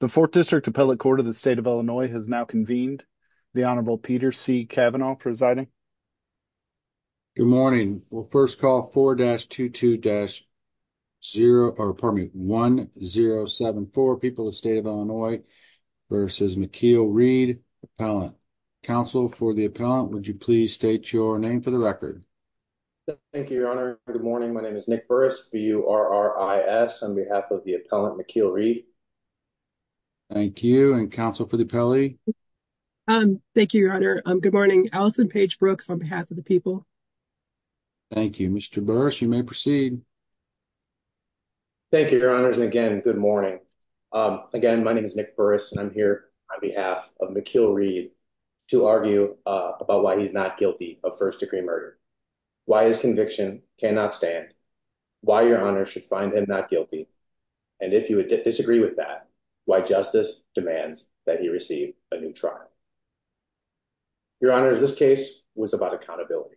The 4th District Appellate Court of the State of Illinois has now convened. The Honorable Peter C. Cavanaugh presiding. Good morning. We'll first call 4-22-1074, People of the State of Illinois, versus McKeel Reed, Appellant. Counsel for the Appellant, would you please state your name for the record? Thank you, Your Honor. Good morning. My name is Nick Burris, B-U-R-R-I-S, on behalf of the Appellant, McKeel Reed. Thank you. And Counsel for the Appellee? Thank you, Your Honor. Good morning. Alison Paige Brooks, on behalf of the People. Thank you. Mr. Burris, you may proceed. Thank you, Your Honors, and again, good morning. Again, my name is Nick Burris, and I'm here on behalf of McKeel Reed to argue about why he's not guilty of first-degree murder, why his conviction cannot stand, why Your Honor should find him not guilty, and if you would disagree with that, why justice demands that he receive a new trial. Your Honors, this case was about accountability.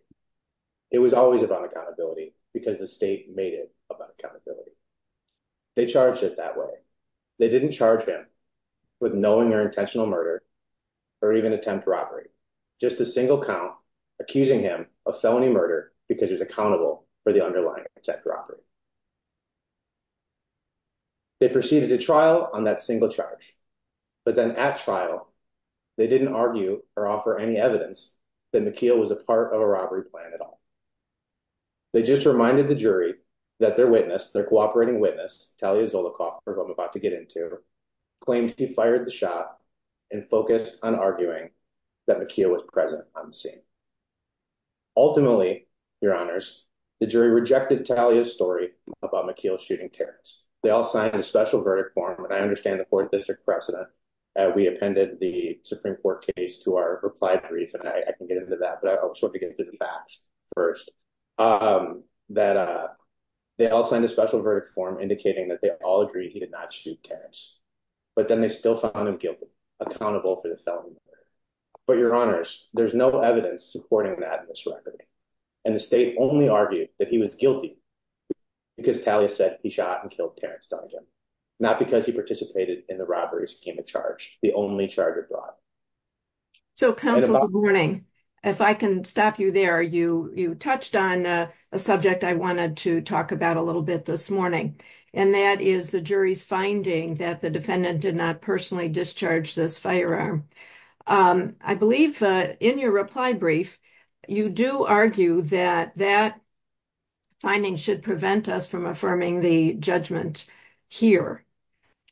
It was always about accountability because the state made it about accountability. They charged it that way. They didn't charge him with knowing or intentional murder or even attempt robbery, just a single count accusing him of felony murder because he was accountable for the underlying attempt robbery. They proceeded to trial on that single charge, but then at trial, they didn't argue or offer any evidence that McKeel was a part of a robbery plan at all. They just reminded the jury that their witness, their cooperating witness, Talia Zolikoff, who I'm about to get into, claimed he fired the shot and focused on arguing that McKeel was present on the scene. Ultimately, Your Honors, the jury rejected Talia's story about McKeel shooting Terrence. They all signed a special verdict form, and I understand the court district precedent. We appended the Supreme Court case to our reply brief, and I can get into that, but I just want to get into the facts first. They all signed a special verdict form indicating that they all agreed he did not shoot Terrence, but then they still found him guilty, accountable for the felony murder. But Your Honors, there's no evidence supporting that in this record, and the state only argued that he was guilty because Talia said he shot and killed Terrence Dunnigan, not because he participated in the robbery scheme of charge, the only charge of robbery. So, counsel, good morning. If I can stop you there, you touched on a subject I wanted to talk about a little bit this morning, and that is the jury's finding that the defendant did not personally discharge this firearm. I believe in your reply brief you do argue that that finding should prevent us from affirming the judgment here,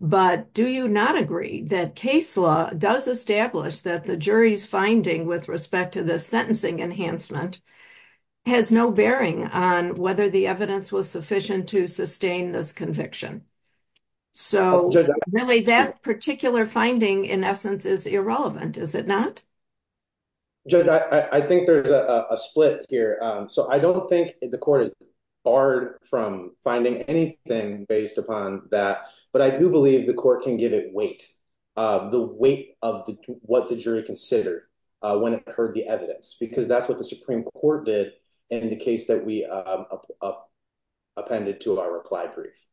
but do you not agree that case law does establish that the jury's finding with respect to the sentencing enhancement has no bearing on whether the evidence was sufficient to sustain this conviction? So really that particular finding in essence is irrelevant, is it not? Judge, I think there's a split here. So I don't think the court is barred from finding anything based upon that, but I do believe the court can give it weight, the weight of what the jury considered when it heard the evidence, because that's what the Supreme Court did in the case that we appended to our reply brief.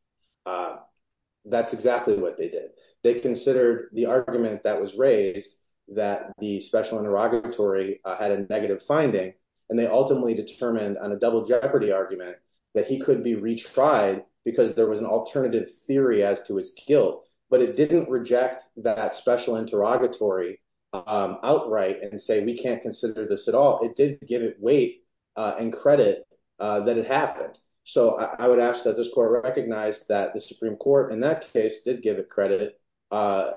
That's exactly what they did. They considered the argument that was raised that the special interrogatory had a negative finding, and they ultimately determined on a double jeopardy argument that he could be retried because there was an alternative theory as to his guilt, but it didn't reject that special interrogatory outright and say we can't consider this at all. It did give it weight and credit that it happened. So I would ask that this court recognize that the Supreme Court in that case did give it credit for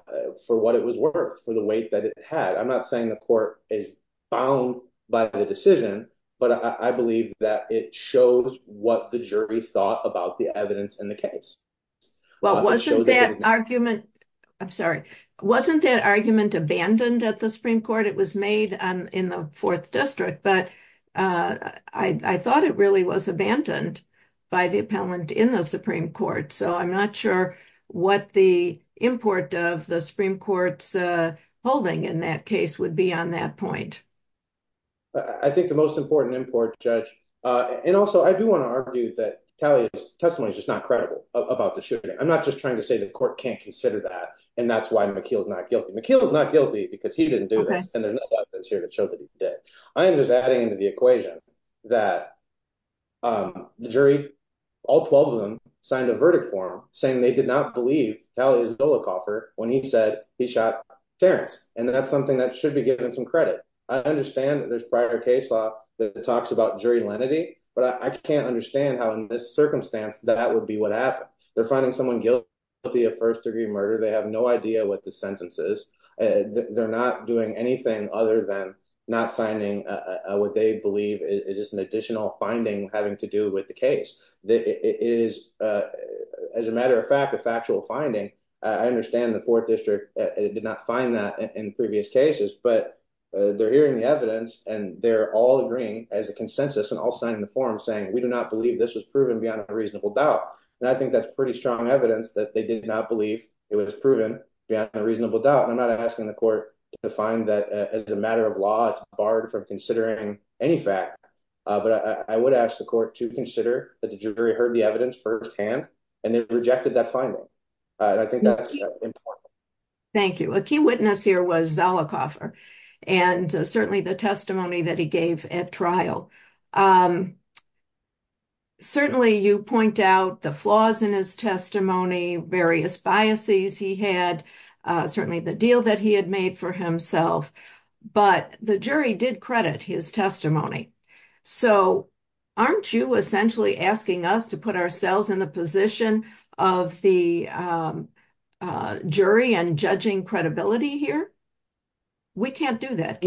what it was worth, for the weight that it had. I'm not saying the court is bound by the decision, but I believe that it shows what the jury thought about the evidence in the case. Well, wasn't that argument abandoned at the Supreme Court? It was made in the fourth district, but I thought it really was abandoned by the appellant in the Supreme Court, so I'm not sure what the import of the Supreme Court's holding in that case would be on that point. I think the most important import, Judge, and also I do want to argue that Talia's testimony is just not credible about the shooting. I'm not just trying to say the court can't consider that, and that's why McKeel is not guilty. McKeel is not guilty because he didn't do this, and there's no evidence here to show that he did. I am just adding to the equation that the jury, all 12 of them, signed a verdict for him saying they did not believe Talia Zollicoffer when he said he shot Terrence, and that's something that should be given some credit. I understand that there's prior case law that talks about jury lenity, but I can't understand how in this circumstance that would be what happened. They're finding someone guilty of first-degree murder. They have no idea what the sentence is. They're not doing anything other than not signing what they believe is just an additional finding having to do with the case. It is, as a matter of fact, a factual finding. I understand the fourth district did not find that in previous cases, but they're hearing the evidence, and they're all agreeing as a consensus, and all signing the form saying we do not believe this was proven beyond a reasonable doubt, and I think that's pretty strong evidence that they did not believe it was proven beyond a reasonable doubt, and I'm not asking the court to find that as a matter of law. It's barred from considering any fact, but I would ask the court to consider that the jury heard the evidence firsthand, and they rejected that finding, and I think that's important. Thank you. A key witness here was Zollicoffer and certainly the testimony that he gave at trial. Certainly you point out the flaws in his testimony, various biases he had, certainly the deal that he had made for himself, but the jury did credit his testimony. So aren't you essentially asking us to put ourselves in the position of the jury and judging credibility here? We can't do that.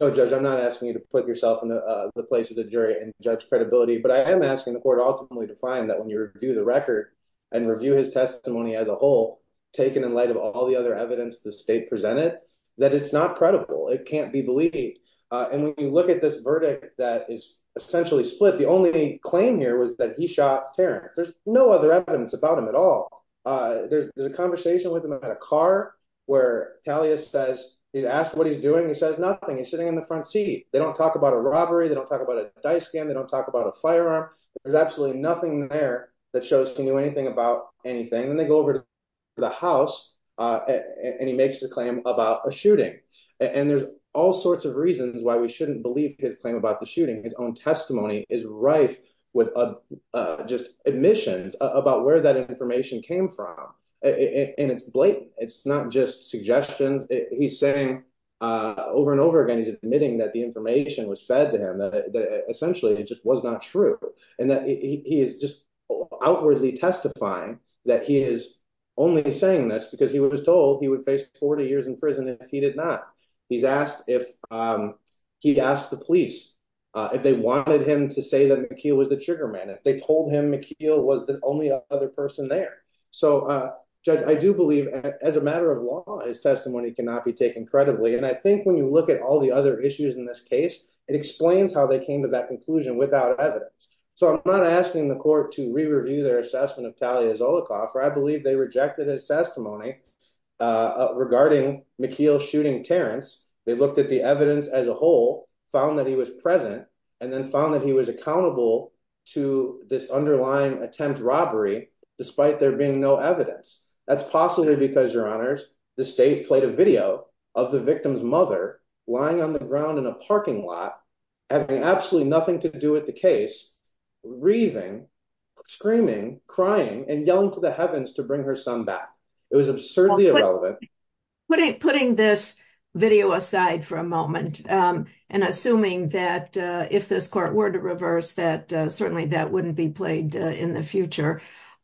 No, Judge, I'm not asking you to put yourself in the place of the jury and judge credibility, but I am asking the court ultimately to find that when you review the record and review his testimony as a whole, taken in light of all the other evidence the state presented, that it's not credible. It can't be believed. And when you look at this verdict that is essentially split, the only claim here was that he shot Terrence. There's no other evidence about him at all. There's a conversation with him about a car where Talia says he's asked what he's doing. He says nothing. He's sitting in the front seat. They don't talk about a robbery. They don't talk about a dice game. They don't talk about a firearm. There's absolutely nothing there that shows he knew anything about anything. And then they go over to the house and he makes a claim about a shooting. And there's all sorts of reasons why we shouldn't believe his claim about the shooting. His own testimony is rife with just admissions about where that information came from. And it's blatant. It's not just suggestions. He's saying over and over again he's admitting that the information was fed to him, that essentially it just was not true, and that he is just outwardly testifying that he is only saying this because he was told he would face 40 years in prison if he did not. He's asked if he'd asked the police if they wanted him to say that McKeel was the trigger man, if they told him McKeel was the only other person there. So, Judge, I do believe as a matter of law his testimony cannot be taken credibly. And I think when you look at all the other issues in this case, it explains how they came to that conclusion without evidence. So I'm not asking the court to re-review their assessment of Talia Zolikoff. I believe they rejected his testimony regarding McKeel shooting Terrence. They looked at the evidence as a whole, found that he was present, and then found that he was accountable to this underlying attempt robbery despite there being no evidence. That's possibly because, Your Honors, the state played a video of the victim's mother lying on the ground in a parking lot, having absolutely nothing to do with the case, breathing, screaming, crying, and yelling to the heavens to bring her son back. It was absurdly irrelevant. Putting this video aside for a moment and assuming that if this court were to reverse that, certainly that wouldn't be played in the future.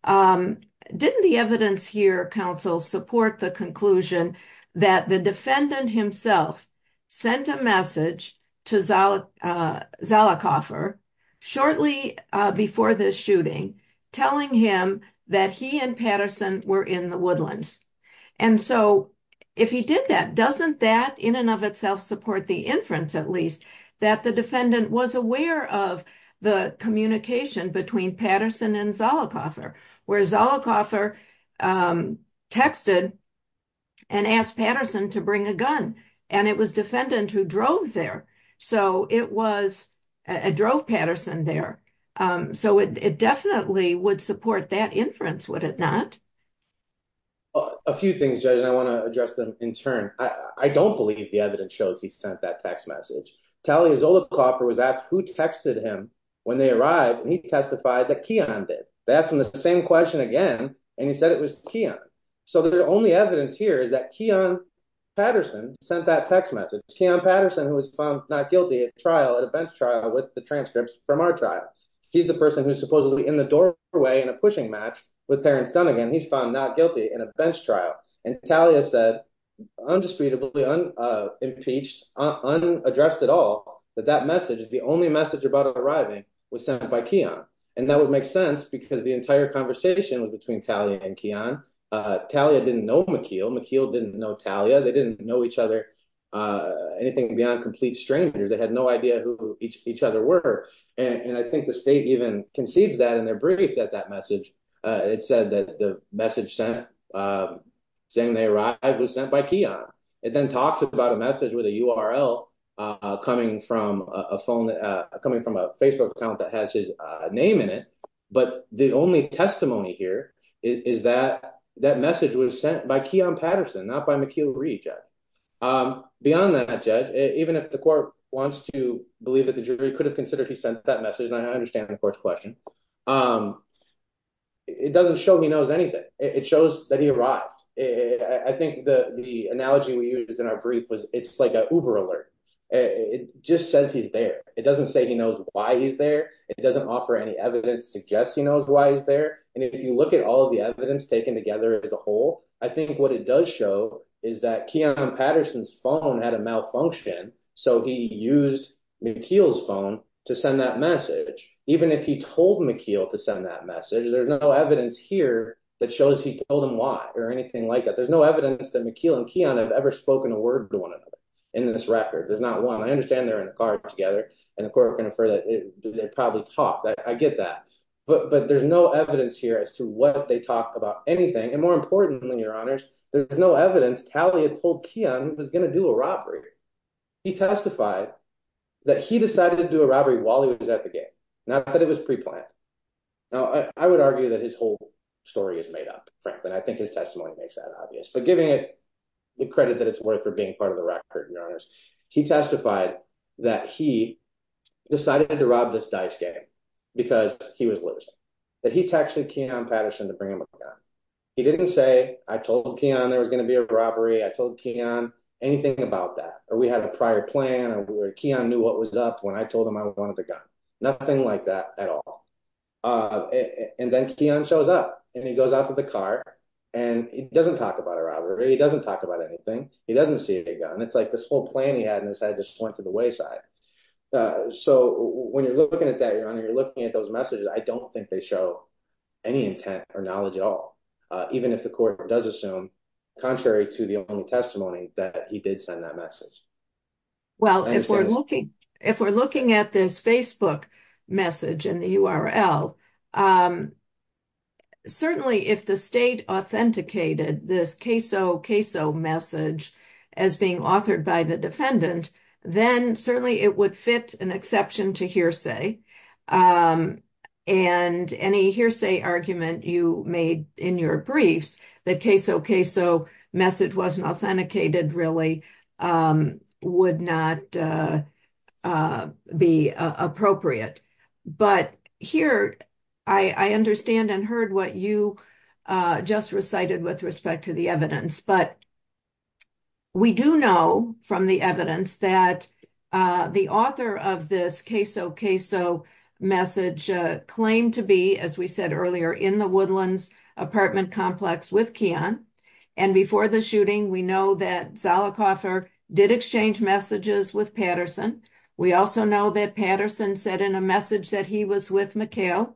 Didn't the evidence here, counsel, support the conclusion that the defendant himself sent a message to Zolikoffer shortly before the shooting telling him that he and Patterson were in the woodlands? And so if he did that, doesn't that in and of itself support the inference, at least, that the defendant was aware of the communication between Patterson and Zolikoffer, where Zolikoffer texted and asked Patterson to bring a gun, and it was defendant who drove there. So it drove Patterson there. So it definitely would support that inference, would it not? A few things, Judge, and I want to address them in turn. I don't believe the evidence shows he sent that text message. Talia Zolikoffer was asked who texted him when they arrived, and he testified that Keon did. They asked him the same question again, and he said it was Keon. So the only evidence here is that Keon Patterson sent that text message. Keon Patterson, who was found not guilty at trial, at a bench trial, with the transcripts from our trial. He's the person who's supposedly in the doorway in a pushing match with Terrence Dunnigan. He's found not guilty in a bench trial. And Talia said, indisputably, unimpeached, unaddressed at all, that that message, the only message about arriving, was sent by Keon. And that would make sense because the entire conversation was between Talia and Keon. Talia didn't know McKeel. McKeel didn't know Talia. They didn't know each other, anything beyond complete strangers. They had no idea who each other were. And I think the state even concedes that in their brief that that message, it said that the message sent, saying they arrived, was sent by Keon. It then talks about a message with a URL coming from a phone, coming from a Facebook account that has his name in it. But the only testimony here is that that message was sent by Keon Patterson, not by McKeel Reed, Judge. Beyond that, Judge, even if the court wants to believe that the jury could have considered he sent that message, and I understand the court's question, it doesn't show he knows anything. It shows that he arrived. I think the analogy we use in our brief was it's like an Uber alert. It just says he's there. It doesn't say he knows why he's there. It doesn't offer any evidence suggesting he knows why he's there. And if you look at all of the evidence taken together as a whole, I think what it does show is that Keon Patterson's phone had a malfunction, so he used McKeel's phone to send that message. Even if he told McKeel to send that message, there's no evidence here that shows he told him why or anything like that. There's no evidence that McKeel and Keon have ever spoken a word to one another in this record. There's not one. I understand they're in a car together, and the court can infer that they probably talked. I get that. But there's no evidence here as to what they talk about anything. And more importantly, Your Honors, there's no evidence Talia told Keon he was going to do a robbery. He testified that he decided to do a robbery while he was at the game, not that it was preplanned. Now, I would argue that his whole story is made up, frankly, and I think his testimony makes that obvious. But giving it the credit that it's worth for being part of the record, Your Honors, he testified that he decided to rob this dice game because he was losing, that he texted Keon Patterson to bring him a gun. He didn't say, I told Keon there was going to be a robbery, I told Keon anything about that, or we had a prior plan, or Keon knew what was up when I told him I wanted the gun. Nothing like that at all. And then Keon shows up, and he goes out to the car, and he doesn't talk about a robbery, he doesn't talk about anything, he doesn't see a gun. It's like this whole plan he had in his head just went to the wayside. So when you're looking at that, Your Honor, you're looking at those messages, I don't think they show any intent or knowledge at all, even if the court does assume, contrary to the testimony, that he did send that message. Well, if we're looking at this Facebook message in the URL, certainly if the state authenticated this queso queso message as being authored by the defendant, then certainly it would fit an exception to hearsay. And any hearsay argument you made in your briefs that queso queso message wasn't authenticated really would not be appropriate. But here, I understand and heard what you just recited with respect to the evidence, but we do know from the evidence that the author of this queso queso message claimed to be, as we said earlier, in the Woodlands apartment complex with Keon. And before the shooting, we know that Zollicoffer did exchange messages with Patterson. We also know that Patterson said in a message that he was with McHale.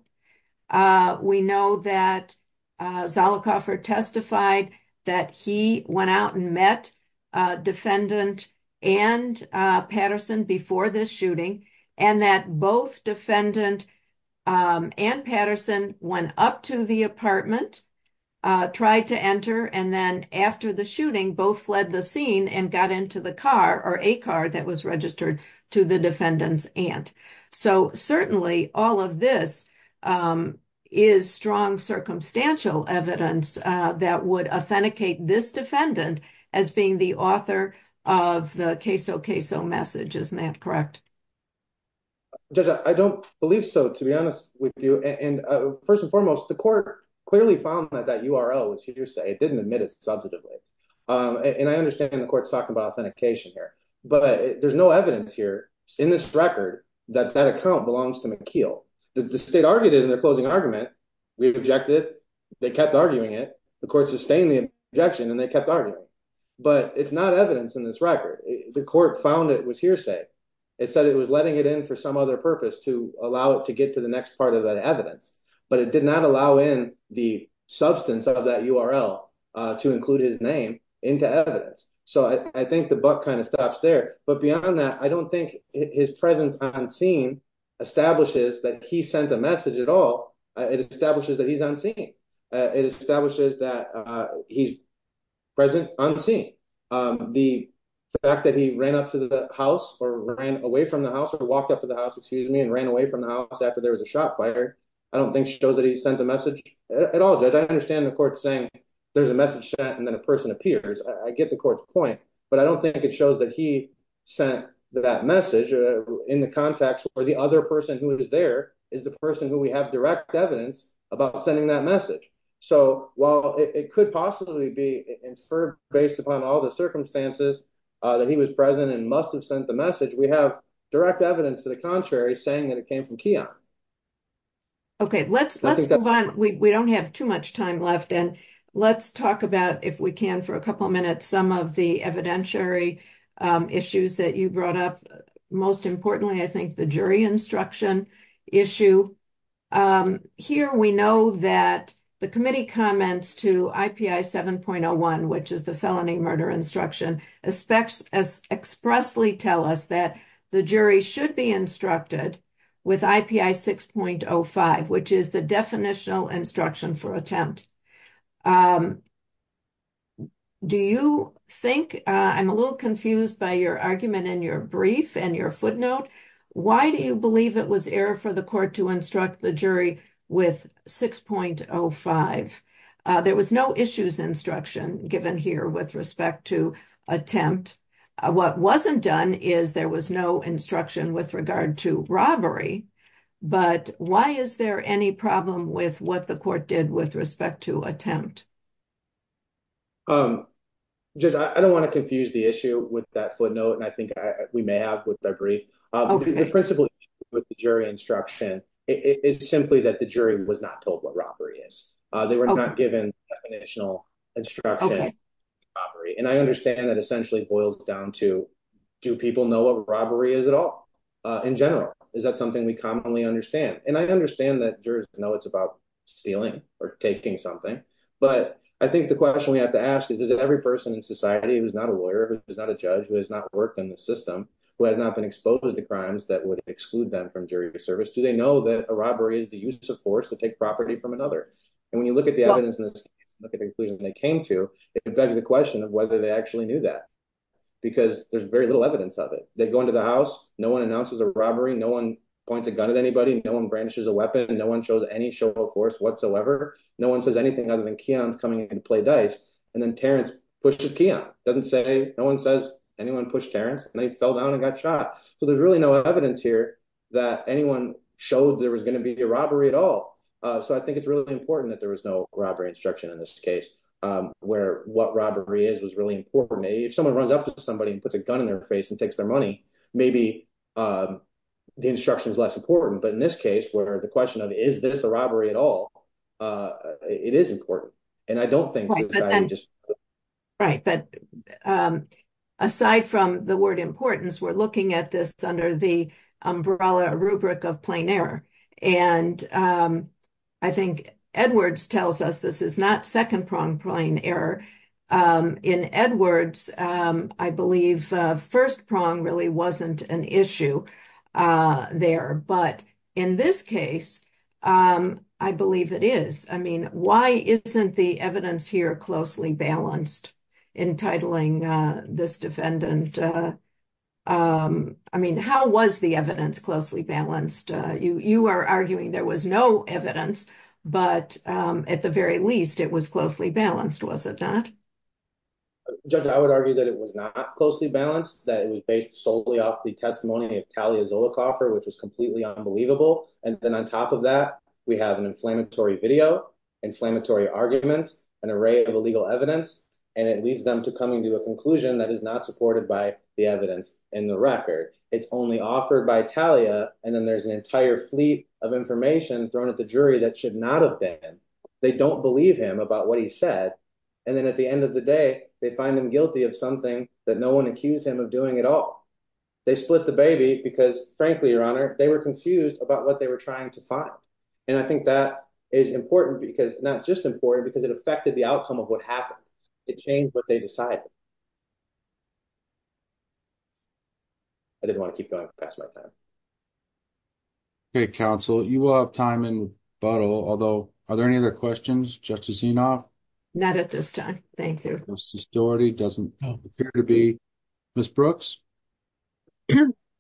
We know that Zollicoffer testified that he went out and met defendant and Patterson before this shooting, and that both defendant and Patterson went up to the apartment, tried to enter, and then after the shooting, both fled the scene and got into the car or a car that was registered to the defendant's aunt. So certainly all of this is strong circumstantial evidence that would authenticate this defendant as being the author of the queso queso message. Isn't that correct? Judge, I don't believe so, to be honest with you. And first and foremost, the court clearly found that that URL was hearsay. It didn't admit it substantively. And I understand the court's talking about authentication here, but there's no evidence here in this record that that account belongs to McHale. The state argued it in their closing argument. We objected. They kept arguing it. The court sustained the objection, and they kept arguing. But it's not evidence in this record. The court found it was hearsay. It said it was letting it in for some other purpose to allow it to get to the next part of that evidence. But it did not allow in the substance of that URL to include his name into evidence. So I think the buck kind of stops there. But beyond that, I don't think his presence on scene establishes that he sent the message at all. It establishes that he's unseen. It establishes that he's present unseen. The fact that he ran up to the house or ran away from the house or walked up to the house, excuse me, and ran away from the house after there was a shot fired, I don't think shows that he sent a message at all. I understand the court saying there's a message sent and then a person appears. I get the court's point, but I don't think it shows that he sent that message in the context where the other person who was there is the person who we have direct evidence about sending that message. So while it could possibly be inferred based upon all the circumstances that he was present and must have sent the message, we have direct evidence to the contrary saying that it came from Keon. Okay, let's move on. We don't have too much time left. And let's talk about, if we can, for a couple minutes, some of the evidentiary issues that you brought up. Most importantly, I think the jury instruction issue. Here we know that the committee comments to IPI 7.01, which is the felony murder instruction, expressly tell us that the jury should be instructed with IPI 6.05, which is the definitional instruction for attempt. Do you think I'm a little confused by your argument in your brief and your footnote? Why do you believe it was error for the court to instruct the jury with 6.05? There was no issues instruction given here with respect to attempt. What wasn't done is there was no instruction with regard to robbery. But why is there any problem with what the court did with respect to attempt? I don't want to confuse the issue with that footnote. And I think we may have with that brief principle with the jury instruction. It's simply that the jury was not told what robbery is. They were not given additional instruction. And I understand that essentially boils down to, do people know what robbery is at all? In general, is that something we commonly understand? And I understand that jurors know it's about stealing or taking something. But I think the question we have to ask is, is it every person in society who's not a lawyer, who's not a judge, who has not worked in the system, who has not been exposed to the crimes that would exclude them from jury service? Do they know that a robbery is the use of force to take property from another? And when you look at the evidence in this case, look at the conclusions they came to, it begs the question of whether they actually knew that. Because there's very little evidence of it. They go into the house. No one announces a robbery. No one points a gun at anybody. No one brandishes a weapon. No one shows any show of force whatsoever. No one says anything other than Keon's coming in to play dice. And then Terrence pushes Keon. Doesn't say, no one says anyone pushed Terrence. And then he fell down and got shot. So there's really no evidence here that anyone showed there was going to be a robbery at all. So I think it's really important that there was no robbery instruction in this case where what robbery is was really important. If someone runs up to somebody and puts a gun in their face and takes their money, maybe the instruction is less important. But in this case, where the question of is this a robbery at all, it is important. And I don't think. Right. But aside from the word importance, we're looking at this under the umbrella rubric of plain error. And I think Edwards tells us this is not second prong plain error. In Edwards, I believe first prong really wasn't an issue there. But in this case, I believe it is. I mean, why isn't the evidence here closely balanced? Entitling this defendant. I mean, how was the evidence closely balanced? You are arguing there was no evidence, but at the very least, it was closely balanced, was it not? Judge, I would argue that it was not closely balanced, that it was based solely off the testimony of Talia Zolicoffer, which was completely unbelievable. And then on top of that, we have an inflammatory video, inflammatory arguments, an array of illegal evidence. And it leads them to coming to a conclusion that is not supported by the evidence in the record. It's only offered by Talia. And then there's an entire fleet of information thrown at the jury that should not have been. They don't believe him about what he said. And then at the end of the day, they find them guilty of something that no one accused him of doing at all. They split the baby because, frankly, Your Honor, they were confused about what they were trying to find. And I think that is important because not just important because it affected the outcome of what happened. It changed what they decided. I didn't want to keep going past my time. Okay, counsel, you will have time in butthole, although are there any other questions? Not at this time. Thank you. Ms. Brooks.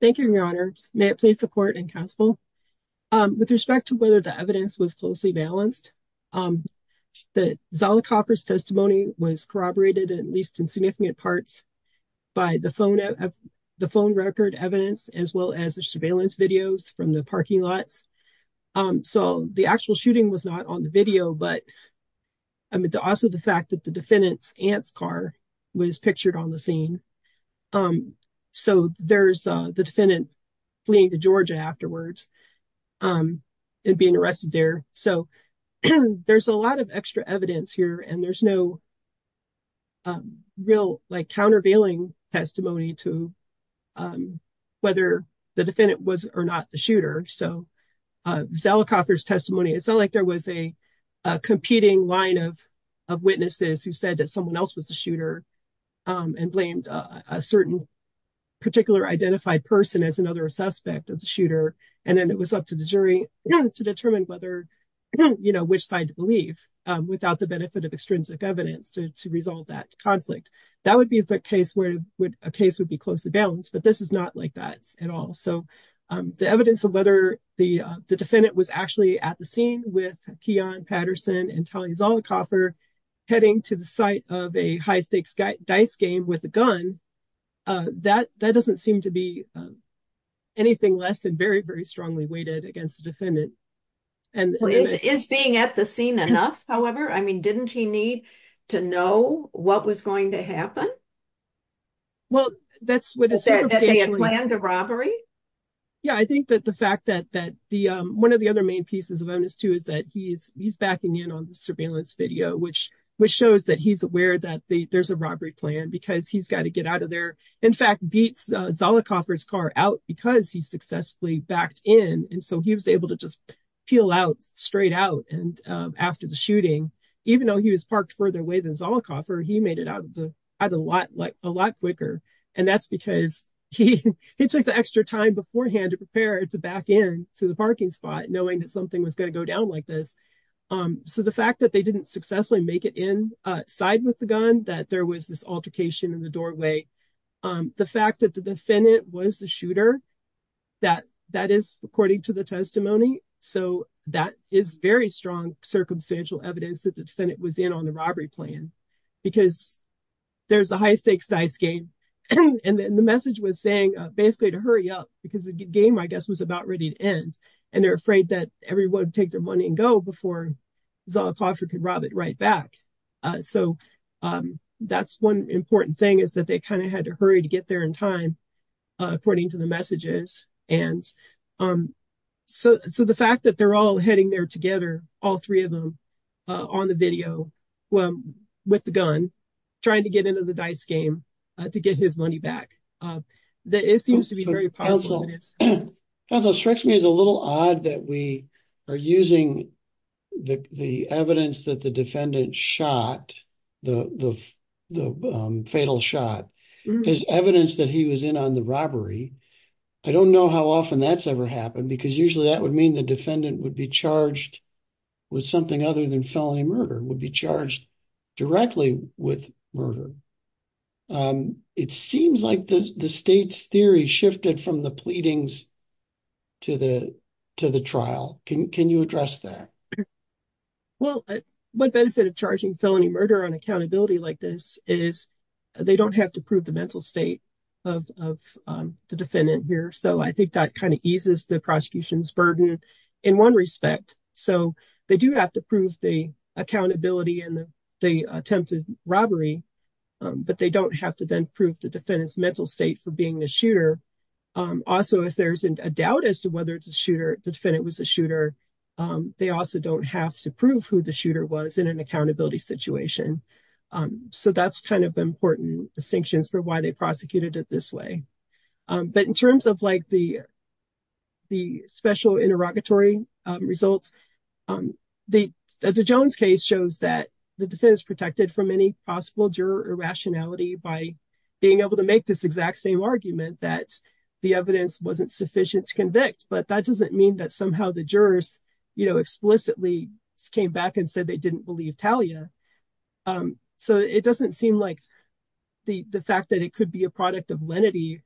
Thank you, Your Honor. May it please the court and counsel. With respect to whether the evidence was closely balanced. The Zala coffers testimony was corroborated, at least in significant parts by the phone of the phone record evidence, as well as the surveillance videos from the parking lots. So the actual shooting was not on the video, but. I mean, also the fact that the defendant's aunt's car was pictured on the scene. So there's the defendant fleeing to Georgia afterwards. And being arrested there, so there's a lot of extra evidence here and there's no real, like, countervailing testimony to whether the defendant was or not the shooter. So, Zella coffers testimony, it's not like there was a competing line of of witnesses who said that someone else was a shooter and blamed a certain particular identified person as another suspect of the shooter. And then it was up to the jury to determine whether you know which side to believe without the benefit of extrinsic evidence to resolve that conflict. That would be the case where a case would be close to balance, but this is not like that at all. So, the evidence of whether the defendant was actually at the scene with Keon Patterson and Tony Zola coffer heading to the site of a high stakes dice game with a gun. That that doesn't seem to be anything less than very, very strongly weighted against the defendant. And is being at the scene enough. However, I mean, didn't he need to know what was going to happen. Well, that's what the robbery. Yeah, I think that the fact that that the 1 of the other main pieces of onus to is that he's he's backing in on the surveillance video, which, which shows that he's aware that there's a robbery plan because he's got to get out of there. In fact, beats Zola coffers car out because he successfully backed in. And so he was able to just peel out straight out. And after the shooting, even though he was parked further away, there's all coffer. He made it out of the lot, like, a lot quicker. And that's because he, he took the extra time beforehand to prepare to back in to the parking spot, knowing that something was going to go down like this. So, the fact that they didn't successfully make it in side with the gun that there was this altercation in the doorway. The fact that the defendant was the shooter that that is according to the testimony. So, that is very strong circumstantial evidence that the defendant was in on the robbery plan because there's a high stakes dice game. And the message was saying, basically, to hurry up because the game, I guess, was about ready to end and they're afraid that everyone take their money and go before. Right back. So, that's 1 important thing is that they kind of had to hurry to get there in time. According to the messages, and so the fact that they're all heading there together, all 3 of them on the video. With the gun, trying to get into the dice game to get his money back. That is seems to be very powerful. Strikes me as a little odd that we are using the evidence that the defendant shot the fatal shot is evidence that he was in on the robbery. I don't know how often that's ever happened because usually that would mean the defendant would be charged with something other than felony murder would be charged directly with murder. It seems like the state's theory shifted from the pleadings to the to the trial. Can you address that? Well, what benefit of charging felony murder on accountability like this is they don't have to prove the mental state of the defendant here. So, I think that kind of eases the prosecution's burden in 1 respect. So, they do have to prove the accountability in the attempted robbery, but they don't have to then prove the defendant's mental state for being the shooter. Also, if there's a doubt as to whether it's a shooter, the defendant was a shooter. They also don't have to prove who the shooter was in an accountability situation. So, that's kind of important distinctions for why they prosecuted it this way. But in terms of the special interrogatory results, the Jones case shows that the defense protected from any possible juror rationality by being able to make this exact same argument that the evidence wasn't sufficient to convict. But that doesn't mean that somehow the jurors explicitly came back and said they didn't believe Talia. So, it doesn't seem like the fact that it could be a product of lenity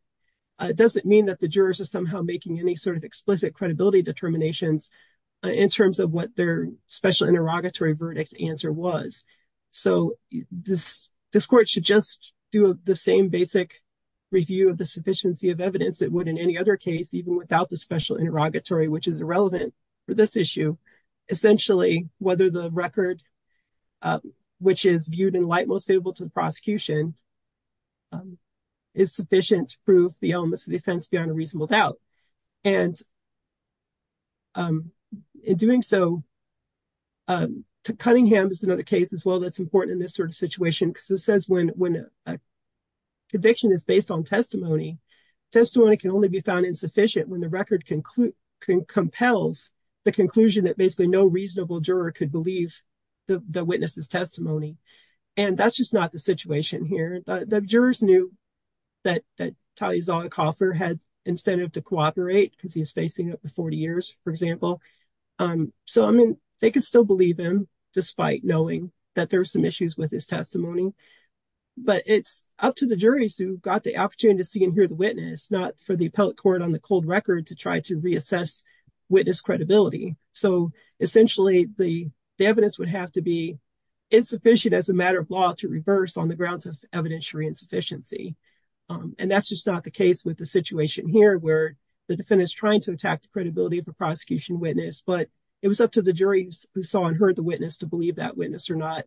doesn't mean that the jurors are somehow making any sort of explicit credibility determinations in terms of what their special interrogatory verdict answer was. So, this court should just do the same basic review of the sufficiency of evidence that would in any other case, even without the special interrogatory, which is irrelevant for this issue. Essentially, whether the record, which is viewed in light most favorable to the prosecution, is sufficient to prove the elements of the offense beyond a reasonable doubt. And in doing so, Cunningham is another case as well that's important in this sort of situation because it says when a conviction is based on testimony, testimony can only be found insufficient when the record compels the conclusion that basically no reasonable juror could believe the witness's testimony. And that's just not the situation here. The jurors knew that Talia Zollicoffer had incentive to cooperate because he's facing up to 40 years, for example. So, I mean, they could still believe him despite knowing that there's some issues with his testimony. But it's up to the juries who got the opportunity to see and hear the witness, not for the appellate court on the cold record to try to reassess witness credibility. So, essentially, the evidence would have to be insufficient as a matter of law to reverse on the grounds of evidentiary insufficiency. And that's just not the case with the situation here where the defendant is trying to attack the credibility of a prosecution witness, but it was up to the jury who saw and heard the witness to believe that witness or not.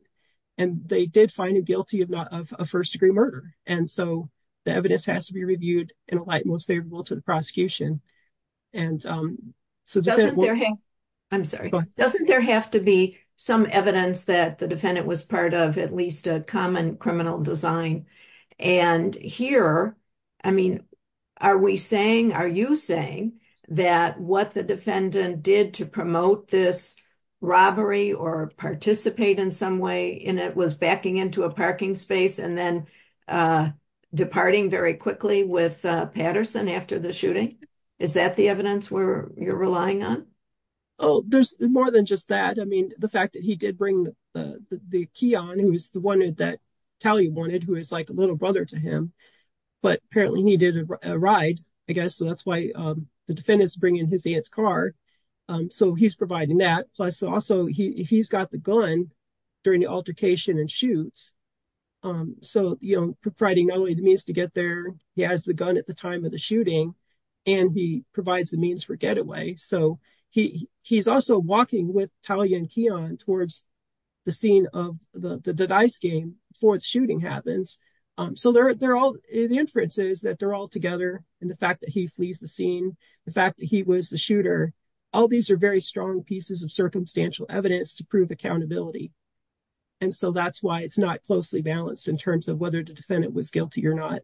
And they did find him guilty of a first degree murder. And so the evidence has to be reviewed in a light most favorable to the prosecution. I'm sorry. Doesn't there have to be some evidence that the defendant was part of at least a common criminal design? And here, I mean, are we saying, are you saying that what the defendant did to promote this robbery or participate in some way in it was backing into a parking space and then departing very quickly with Patterson after the shooting? Is that the evidence where you're relying on? Oh, there's more than just that. I mean, the fact that he did bring the key on who is the one that Tally wanted, who is like a little brother to him, but apparently needed a ride, I guess. So that's why the defendants bring in his aunt's car. So he's providing that. Plus, also, he's got the gun during the altercation and shoots. So, you know, providing not only the means to get there, he has the gun at the time of the shooting and he provides the means for getaway. So he he's also walking with Talia and Keon towards the scene of the dice game for the shooting happens. So they're all the inferences that they're all together. And the fact that he flees the scene, the fact that he was the shooter, all these are very strong pieces of circumstantial evidence to prove accountability. And so that's why it's not closely balanced in terms of whether the defendant was guilty or not.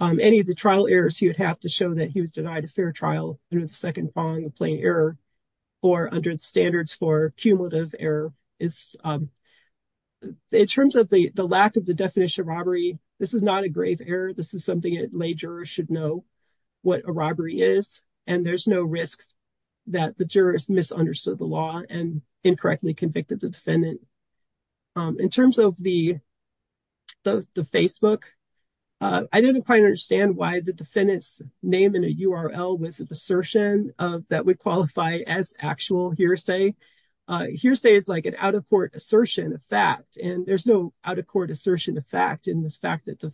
Any of the trial errors, you'd have to show that he was denied a fair trial and a second on the plane error or under the standards for cumulative error is. In terms of the lack of the definition of robbery, this is not a grave error. This is something it should know what a robbery is. And there's no risk that the jurors misunderstood the law and incorrectly convicted the defendant. In terms of the Facebook, I didn't quite understand why the defendant's name in a URL was an assertion that would qualify as actual hearsay. Hearsay is like an out-of-court assertion of fact, and there's no out-of-court assertion of fact in the fact that the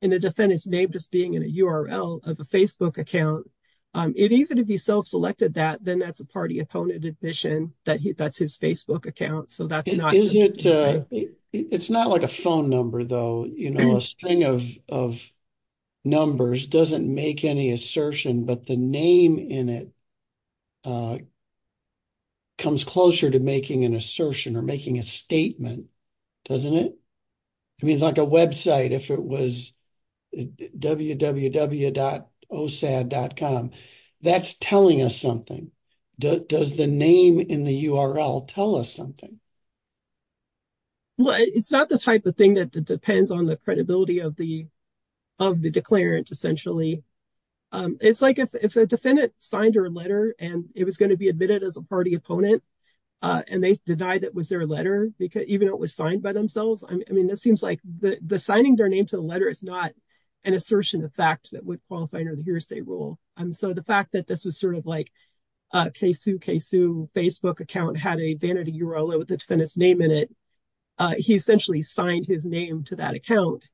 in the defendant's name just being in a URL of a Facebook account. It even if he self-selected that, then that's a party opponent admission that that's his Facebook account. It's not like a phone number, though. A string of numbers doesn't make any assertion, but the name in it comes closer to making an assertion or making a statement, doesn't it? I mean, like a website, if it was www.osad.com, that's telling us something. Does the name in the URL tell us something? Well, it's not the type of thing that depends on the credibility of the declarant, essentially. It's like if a defendant signed her letter, and it was going to be admitted as a party opponent, and they denied it was their letter, even though it was signed by themselves. I mean, it seems like the signing their name to the letter is not an assertion of fact that would qualify under the hearsay rule. So the fact that this was sort of like a K-Sue, K-Sue Facebook account had a vanity URL with the defendant's name in it, he essentially signed his name to that account.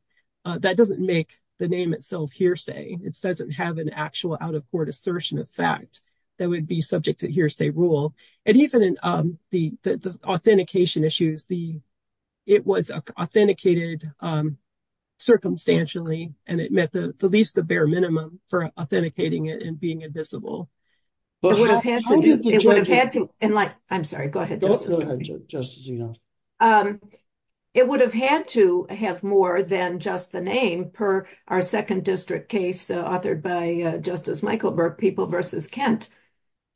That doesn't make the name itself hearsay. It doesn't have an actual out-of-court assertion of fact that would be subject to hearsay rule. And even in the authentication issues, it was authenticated circumstantially, and it met at least the bare minimum for authenticating it and being invisible. It would have had to have more than just the name per our second district case authored by Justice Michael Burke, People v. Kent,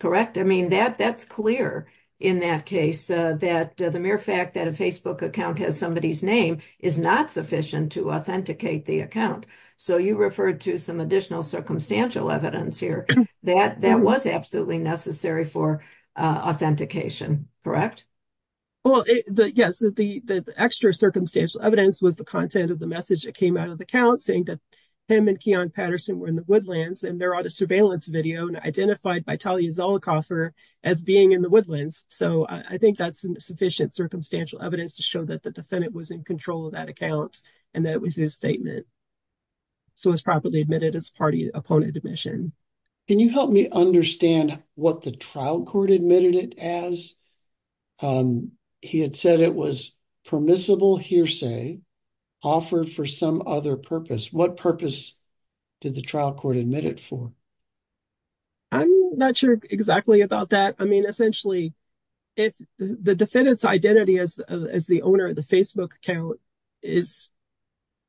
correct? I mean, that's clear in that case, that the mere fact that a Facebook account has somebody's name is not sufficient to authenticate the account. So you referred to some additional circumstantial evidence here that that was absolutely necessary for authentication, correct? Well, yes, the extra circumstantial evidence was the content of the message that came out of the account saying that him and Keon Patterson were in the woodlands and they're on a surveillance video and identified by Talia Zollicoffer as being in the woodlands. So I think that's sufficient circumstantial evidence to show that the defendant was in control of that account and that it was his statement. So it was properly admitted as party opponent admission. Can you help me understand what the trial court admitted it as? He had said it was permissible hearsay offered for some other purpose. What purpose did the trial court admit it for? I'm not sure exactly about that. I mean, essentially, if the defendant's identity as the owner of the Facebook account is,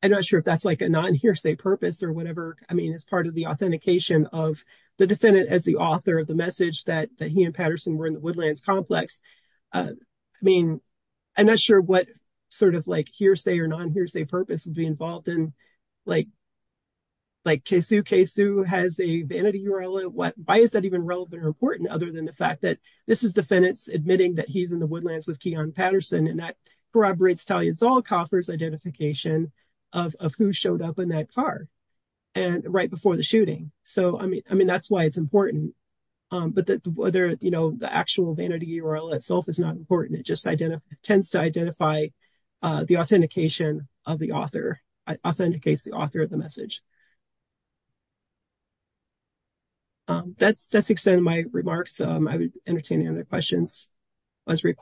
I'm not sure if that's like a non hearsay purpose or whatever. I mean, it's part of the authentication of the defendant as the author of the message that he and Patterson were in the woodlands complex. I mean, I'm not sure what sort of like hearsay or non hearsay purpose would be involved in. Like Kasey Kasey has a vanity URL. Why is that even relevant or important? Other than the fact that this is defendants admitting that he's in the woodlands with Keon Patterson and that corroborates Talia Zollicoffer's identification of who showed up in that car and right before the shooting. So, I mean, I mean, that's why it's important. But the actual vanity URL itself is not important. It just tends to identify the authentication of the author, authenticates the author of the message. That's the extent of my remarks. I would entertain any other questions. I did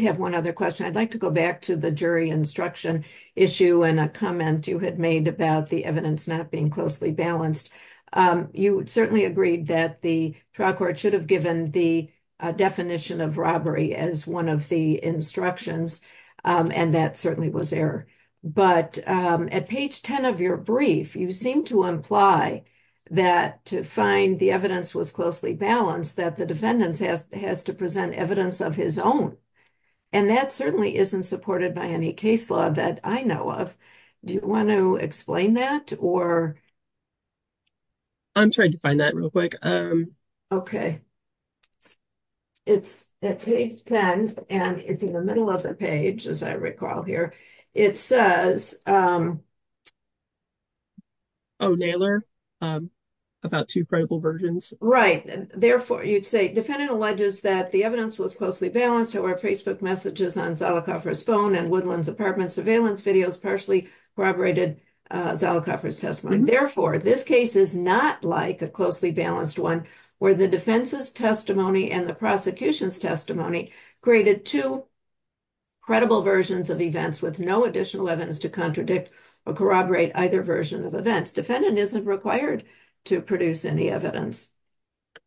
have one other question. I'd like to go back to the jury instruction issue and a comment you had made about the evidence not being closely balanced. You certainly agreed that the trial court should have given the definition of robbery as one of the instructions. And that certainly was error. But at page 10 of your brief, you seem to imply that to find the evidence was closely balanced that the defendants has to present evidence of his own. And that certainly isn't supported by any case law that I know of. Do you want to explain that? Or. I'm trying to find that real quick. It's at page 10 and it's in the middle of the page, as I recall here. It says. Oh, Naylor. About two credible versions. Therefore, you'd say defendant alleges that the evidence was closely balanced to our Facebook messages on Zalikoffer's phone and Woodland's apartment surveillance videos partially corroborated Zalikoffer's testimony. Therefore, this case is not like a closely balanced one where the defense's testimony and the prosecution's testimony created two credible versions of events with no additional evidence to contradict or corroborate either version of events. Defendant isn't required to produce any evidence.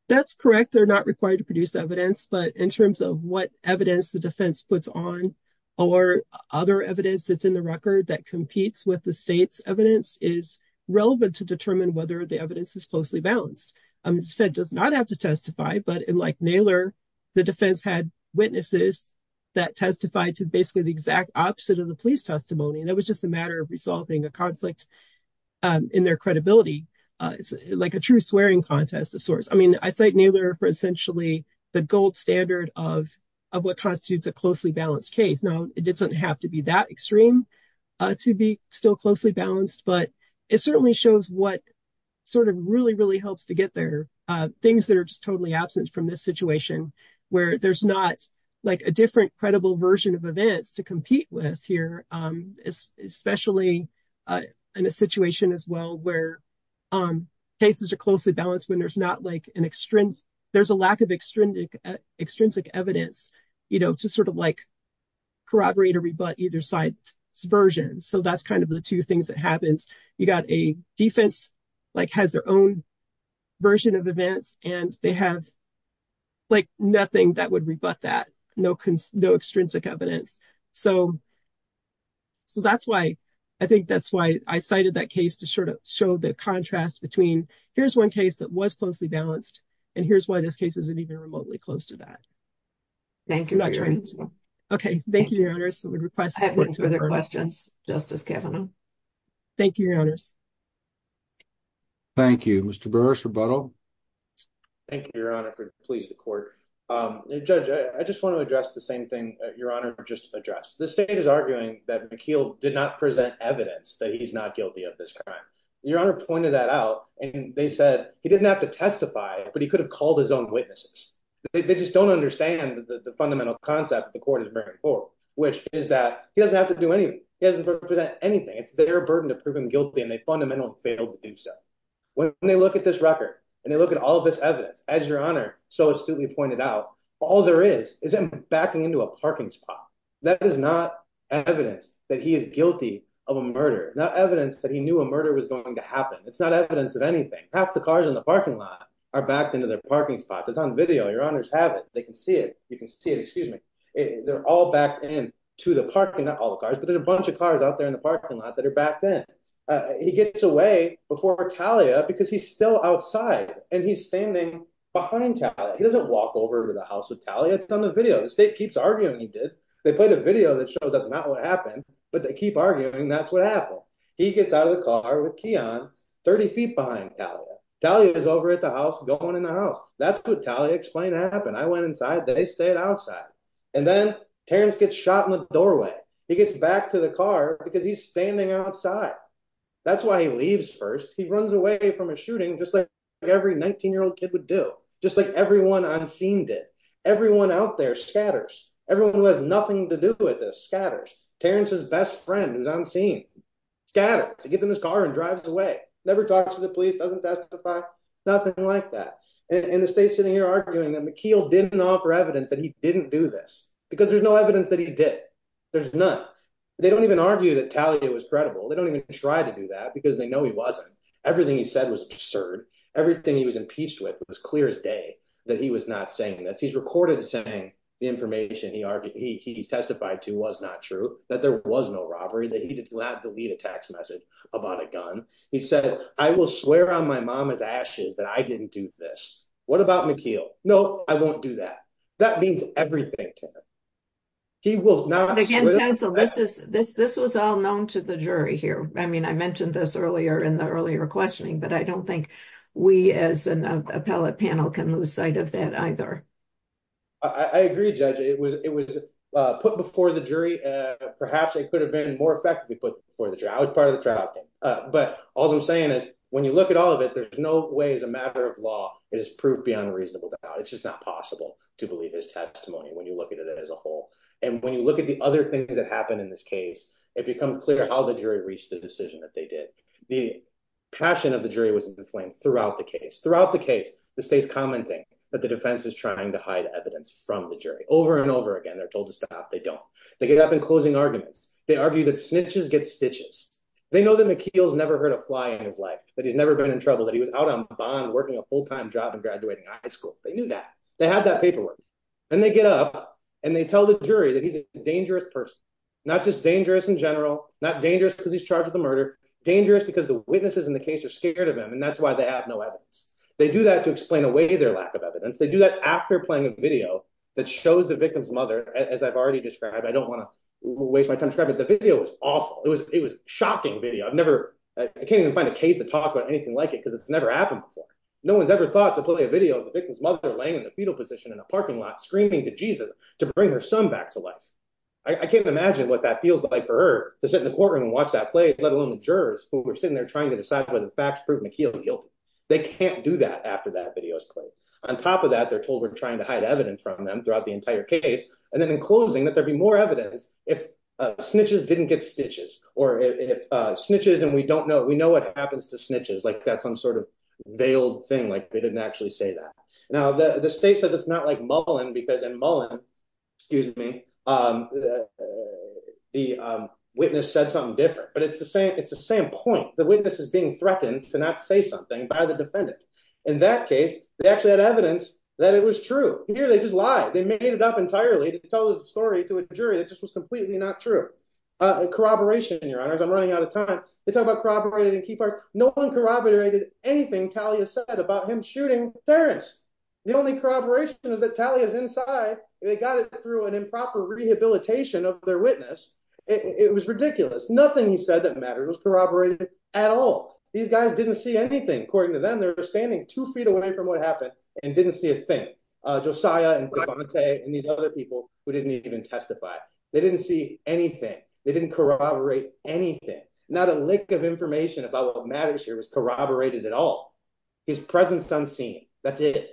That's correct. They're not required to produce evidence. But in terms of what evidence the defense puts on or other evidence that's in the record that competes with the state's evidence is relevant to determine whether the evidence is closely balanced. It does not have to testify. But unlike Naylor, the defense had witnesses that testified to basically the exact opposite of the police testimony. And it was just a matter of resolving a conflict in their credibility. It's like a true swearing contest of sorts. I mean, I cite Naylor for essentially the gold standard of what constitutes a closely balanced case. Now, it doesn't have to be that extreme to be still closely balanced, but it certainly shows what sort of really, really helps to get there. Things that are just totally absent from this situation where there's not like a different credible version of events to compete with here, especially in a situation as well, where cases are closely balanced when there's not like an extrinsic. There's a lack of extrinsic evidence, you know, to sort of like corroborate or rebut either side's version. So that's kind of the two things that happens. You got a defense like has their own version of events and they have like nothing that would rebut that. No, no extrinsic evidence. So that's why I think that's why I cited that case to sort of show the contrast between here's one case that was closely balanced. And here's why this case isn't even remotely close to that. Thank you. Okay. Thank you. Thanks for the questions, Justice Kavanaugh. Thank you, Your Honors. Thank you. Mr. Burrus, rebuttal. Thank you, Your Honor. For please the court, judge. I just want to address the same thing. Your honor. Just address the state. Is arguing that McKeon did not present evidence that he's not guilty of this crime. Your Honor pointed that out and they said he didn't have to testify, but he could have called his own witnesses. They just don't understand the fundamental concept. The court is very poor. Which is that he doesn't have to do anything. He doesn't represent anything. It's their burden to prove him guilty, and they fundamentally failed to do so. When they look at this record, and they look at all of this evidence, as Your Honor so astutely pointed out, all there is, is him backing into a parking spot. That is not evidence that he is guilty of a murder. Not evidence that he knew a murder was going to happen. It's not evidence of anything. Half the cars in the parking lot are backed into their parking spots. It's on video. Your Honors have it. They can see it. You can see it. Excuse me. They're all backed into the parking lot. Not all the cars, but there's a bunch of cars out there in the parking lot that are backed in. He gets away before Talia, because he's still outside. And he's standing behind Talia. He doesn't walk over to the house with Talia. It's on the video. The state keeps arguing he did. They played a video that showed that's not what happened, but they keep arguing that's what happened. He gets out of the car with Keon, 30 feet behind Talia. Talia is over at the house, going in the house. That's what Talia explained happened. I went inside. They stayed outside. And then Terrence gets shot in the doorway. He gets back to the car, because he's standing outside. That's why he leaves first. He runs away from a shooting, just like every 19-year-old kid would do. Just like everyone on scene did. Everyone out there scatters. Everyone who has nothing to do with this scatters. Terrence's best friend, who's on scene, scatters. He gets in his car and drives away. Never talks to the police, doesn't testify. Nothing like that. And the state's sitting here arguing that McKeel didn't offer evidence that he didn't do this. Because there's no evidence that he did. There's none. They don't even argue that Talia was credible. They don't even try to do that, because they know he wasn't. Everything he said was absurd. Everything he was impeached with was clear as day that he was not saying this. He's recorded saying the information he testified to was not true. That there was no robbery. That he did not delete a text message about a gun. He said, I will swear on my mama's ashes that I didn't do this. What about McKeel? No, I won't do that. That means everything to him. He will not. Again, counsel, this was all known to the jury here. I mean, I mentioned this earlier in the earlier questioning. But I don't think we as an appellate panel can lose sight of that either. I agree, Judge. It was put before the jury. Perhaps it could have been more effectively put before the jury. But all I'm saying is, when you look at all of it, there's no way as a matter of law it is proof beyond a reasonable doubt. It's just not possible to believe his testimony when you look at it as a whole. And when you look at the other things that happened in this case, it becomes clear how the jury reached the decision that they did. The passion of the jury was in the flame throughout the case. Throughout the case, the state's commenting that the defense is trying to hide evidence from the jury. Over and over again, they're told to stop. They don't. They get up in closing arguments. They argue that snitches get stitches. They know that McKeel's never heard a fly in his life, that he's never been in trouble, that he was out on bond working a full-time job and graduating high school. They knew that. They had that paperwork. And they get up, and they tell the jury that he's a dangerous person. Not just dangerous in general, not dangerous because he's charged with a murder, dangerous because the witnesses in the case are scared of him. And that's why they have no evidence. They do that to explain away their lack of evidence. They do that after playing a video that shows the victim's mother, as I've already described. I don't want to waste my time describing it. The video was awful. It was a shocking video. I can't even find a case that talks about anything like it because it's never happened before. No one's ever thought to play a video of the victim's mother laying in the fetal position in a parking lot, screaming to Jesus to bring her son back to life. I can't imagine what that feels like for her to sit in the courtroom and watch that play, let alone the jurors who are sitting there trying to decide whether the facts prove McKeel guilty. They can't do that after that video is played. On top of that, they're told we're trying to hide evidence from them throughout the entire case, and then in closing that there'd be more evidence if snitches didn't get stitches, or if snitches and we don't know, we know what happens to snitches, like that's some sort of veiled thing, like they didn't actually say that. Now, the state said it's not like Mullen, because in Mullen, excuse me, the witness said something different, but it's the same point. The witness is being threatened to not say something by the defendant. In that case, they actually had evidence that it was true. Here, they just lied. They made it up entirely to tell the story to a jury that just was completely not true. Corroboration, your honors, I'm running out of time. They talk about corroborated and key part. No one corroborated anything Talia said about him shooting Terrence. The only corroboration is that Talia's inside. They got it through an improper rehabilitation of their witness. It was ridiculous. Nothing he said that mattered was corroborated at all. These guys didn't see anything. According to them, they were standing two feet away from what happened and didn't see a thing. They didn't see Josiah and the other people who didn't even testify. They didn't see anything. They didn't corroborate anything. Not a lick of information about what matters here was corroborated at all. His presence unseen, that's it.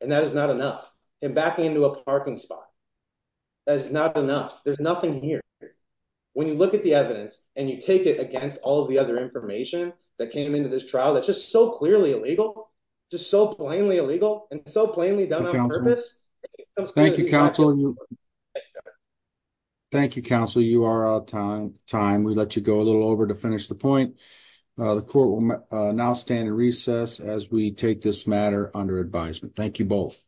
And that is not enough. Him backing into a parking spot, that is not enough. There's nothing here. When you look at the evidence and you take it against all of the other information that came into this trial, that's just so clearly illegal, just so plainly illegal, and so plainly done on purpose. Thank you, counsel. Thank you, counsel. You are out of time. We'll let you go a little over to finish the point. The court will now stand in recess as we take this matter under advisement. Thank you both.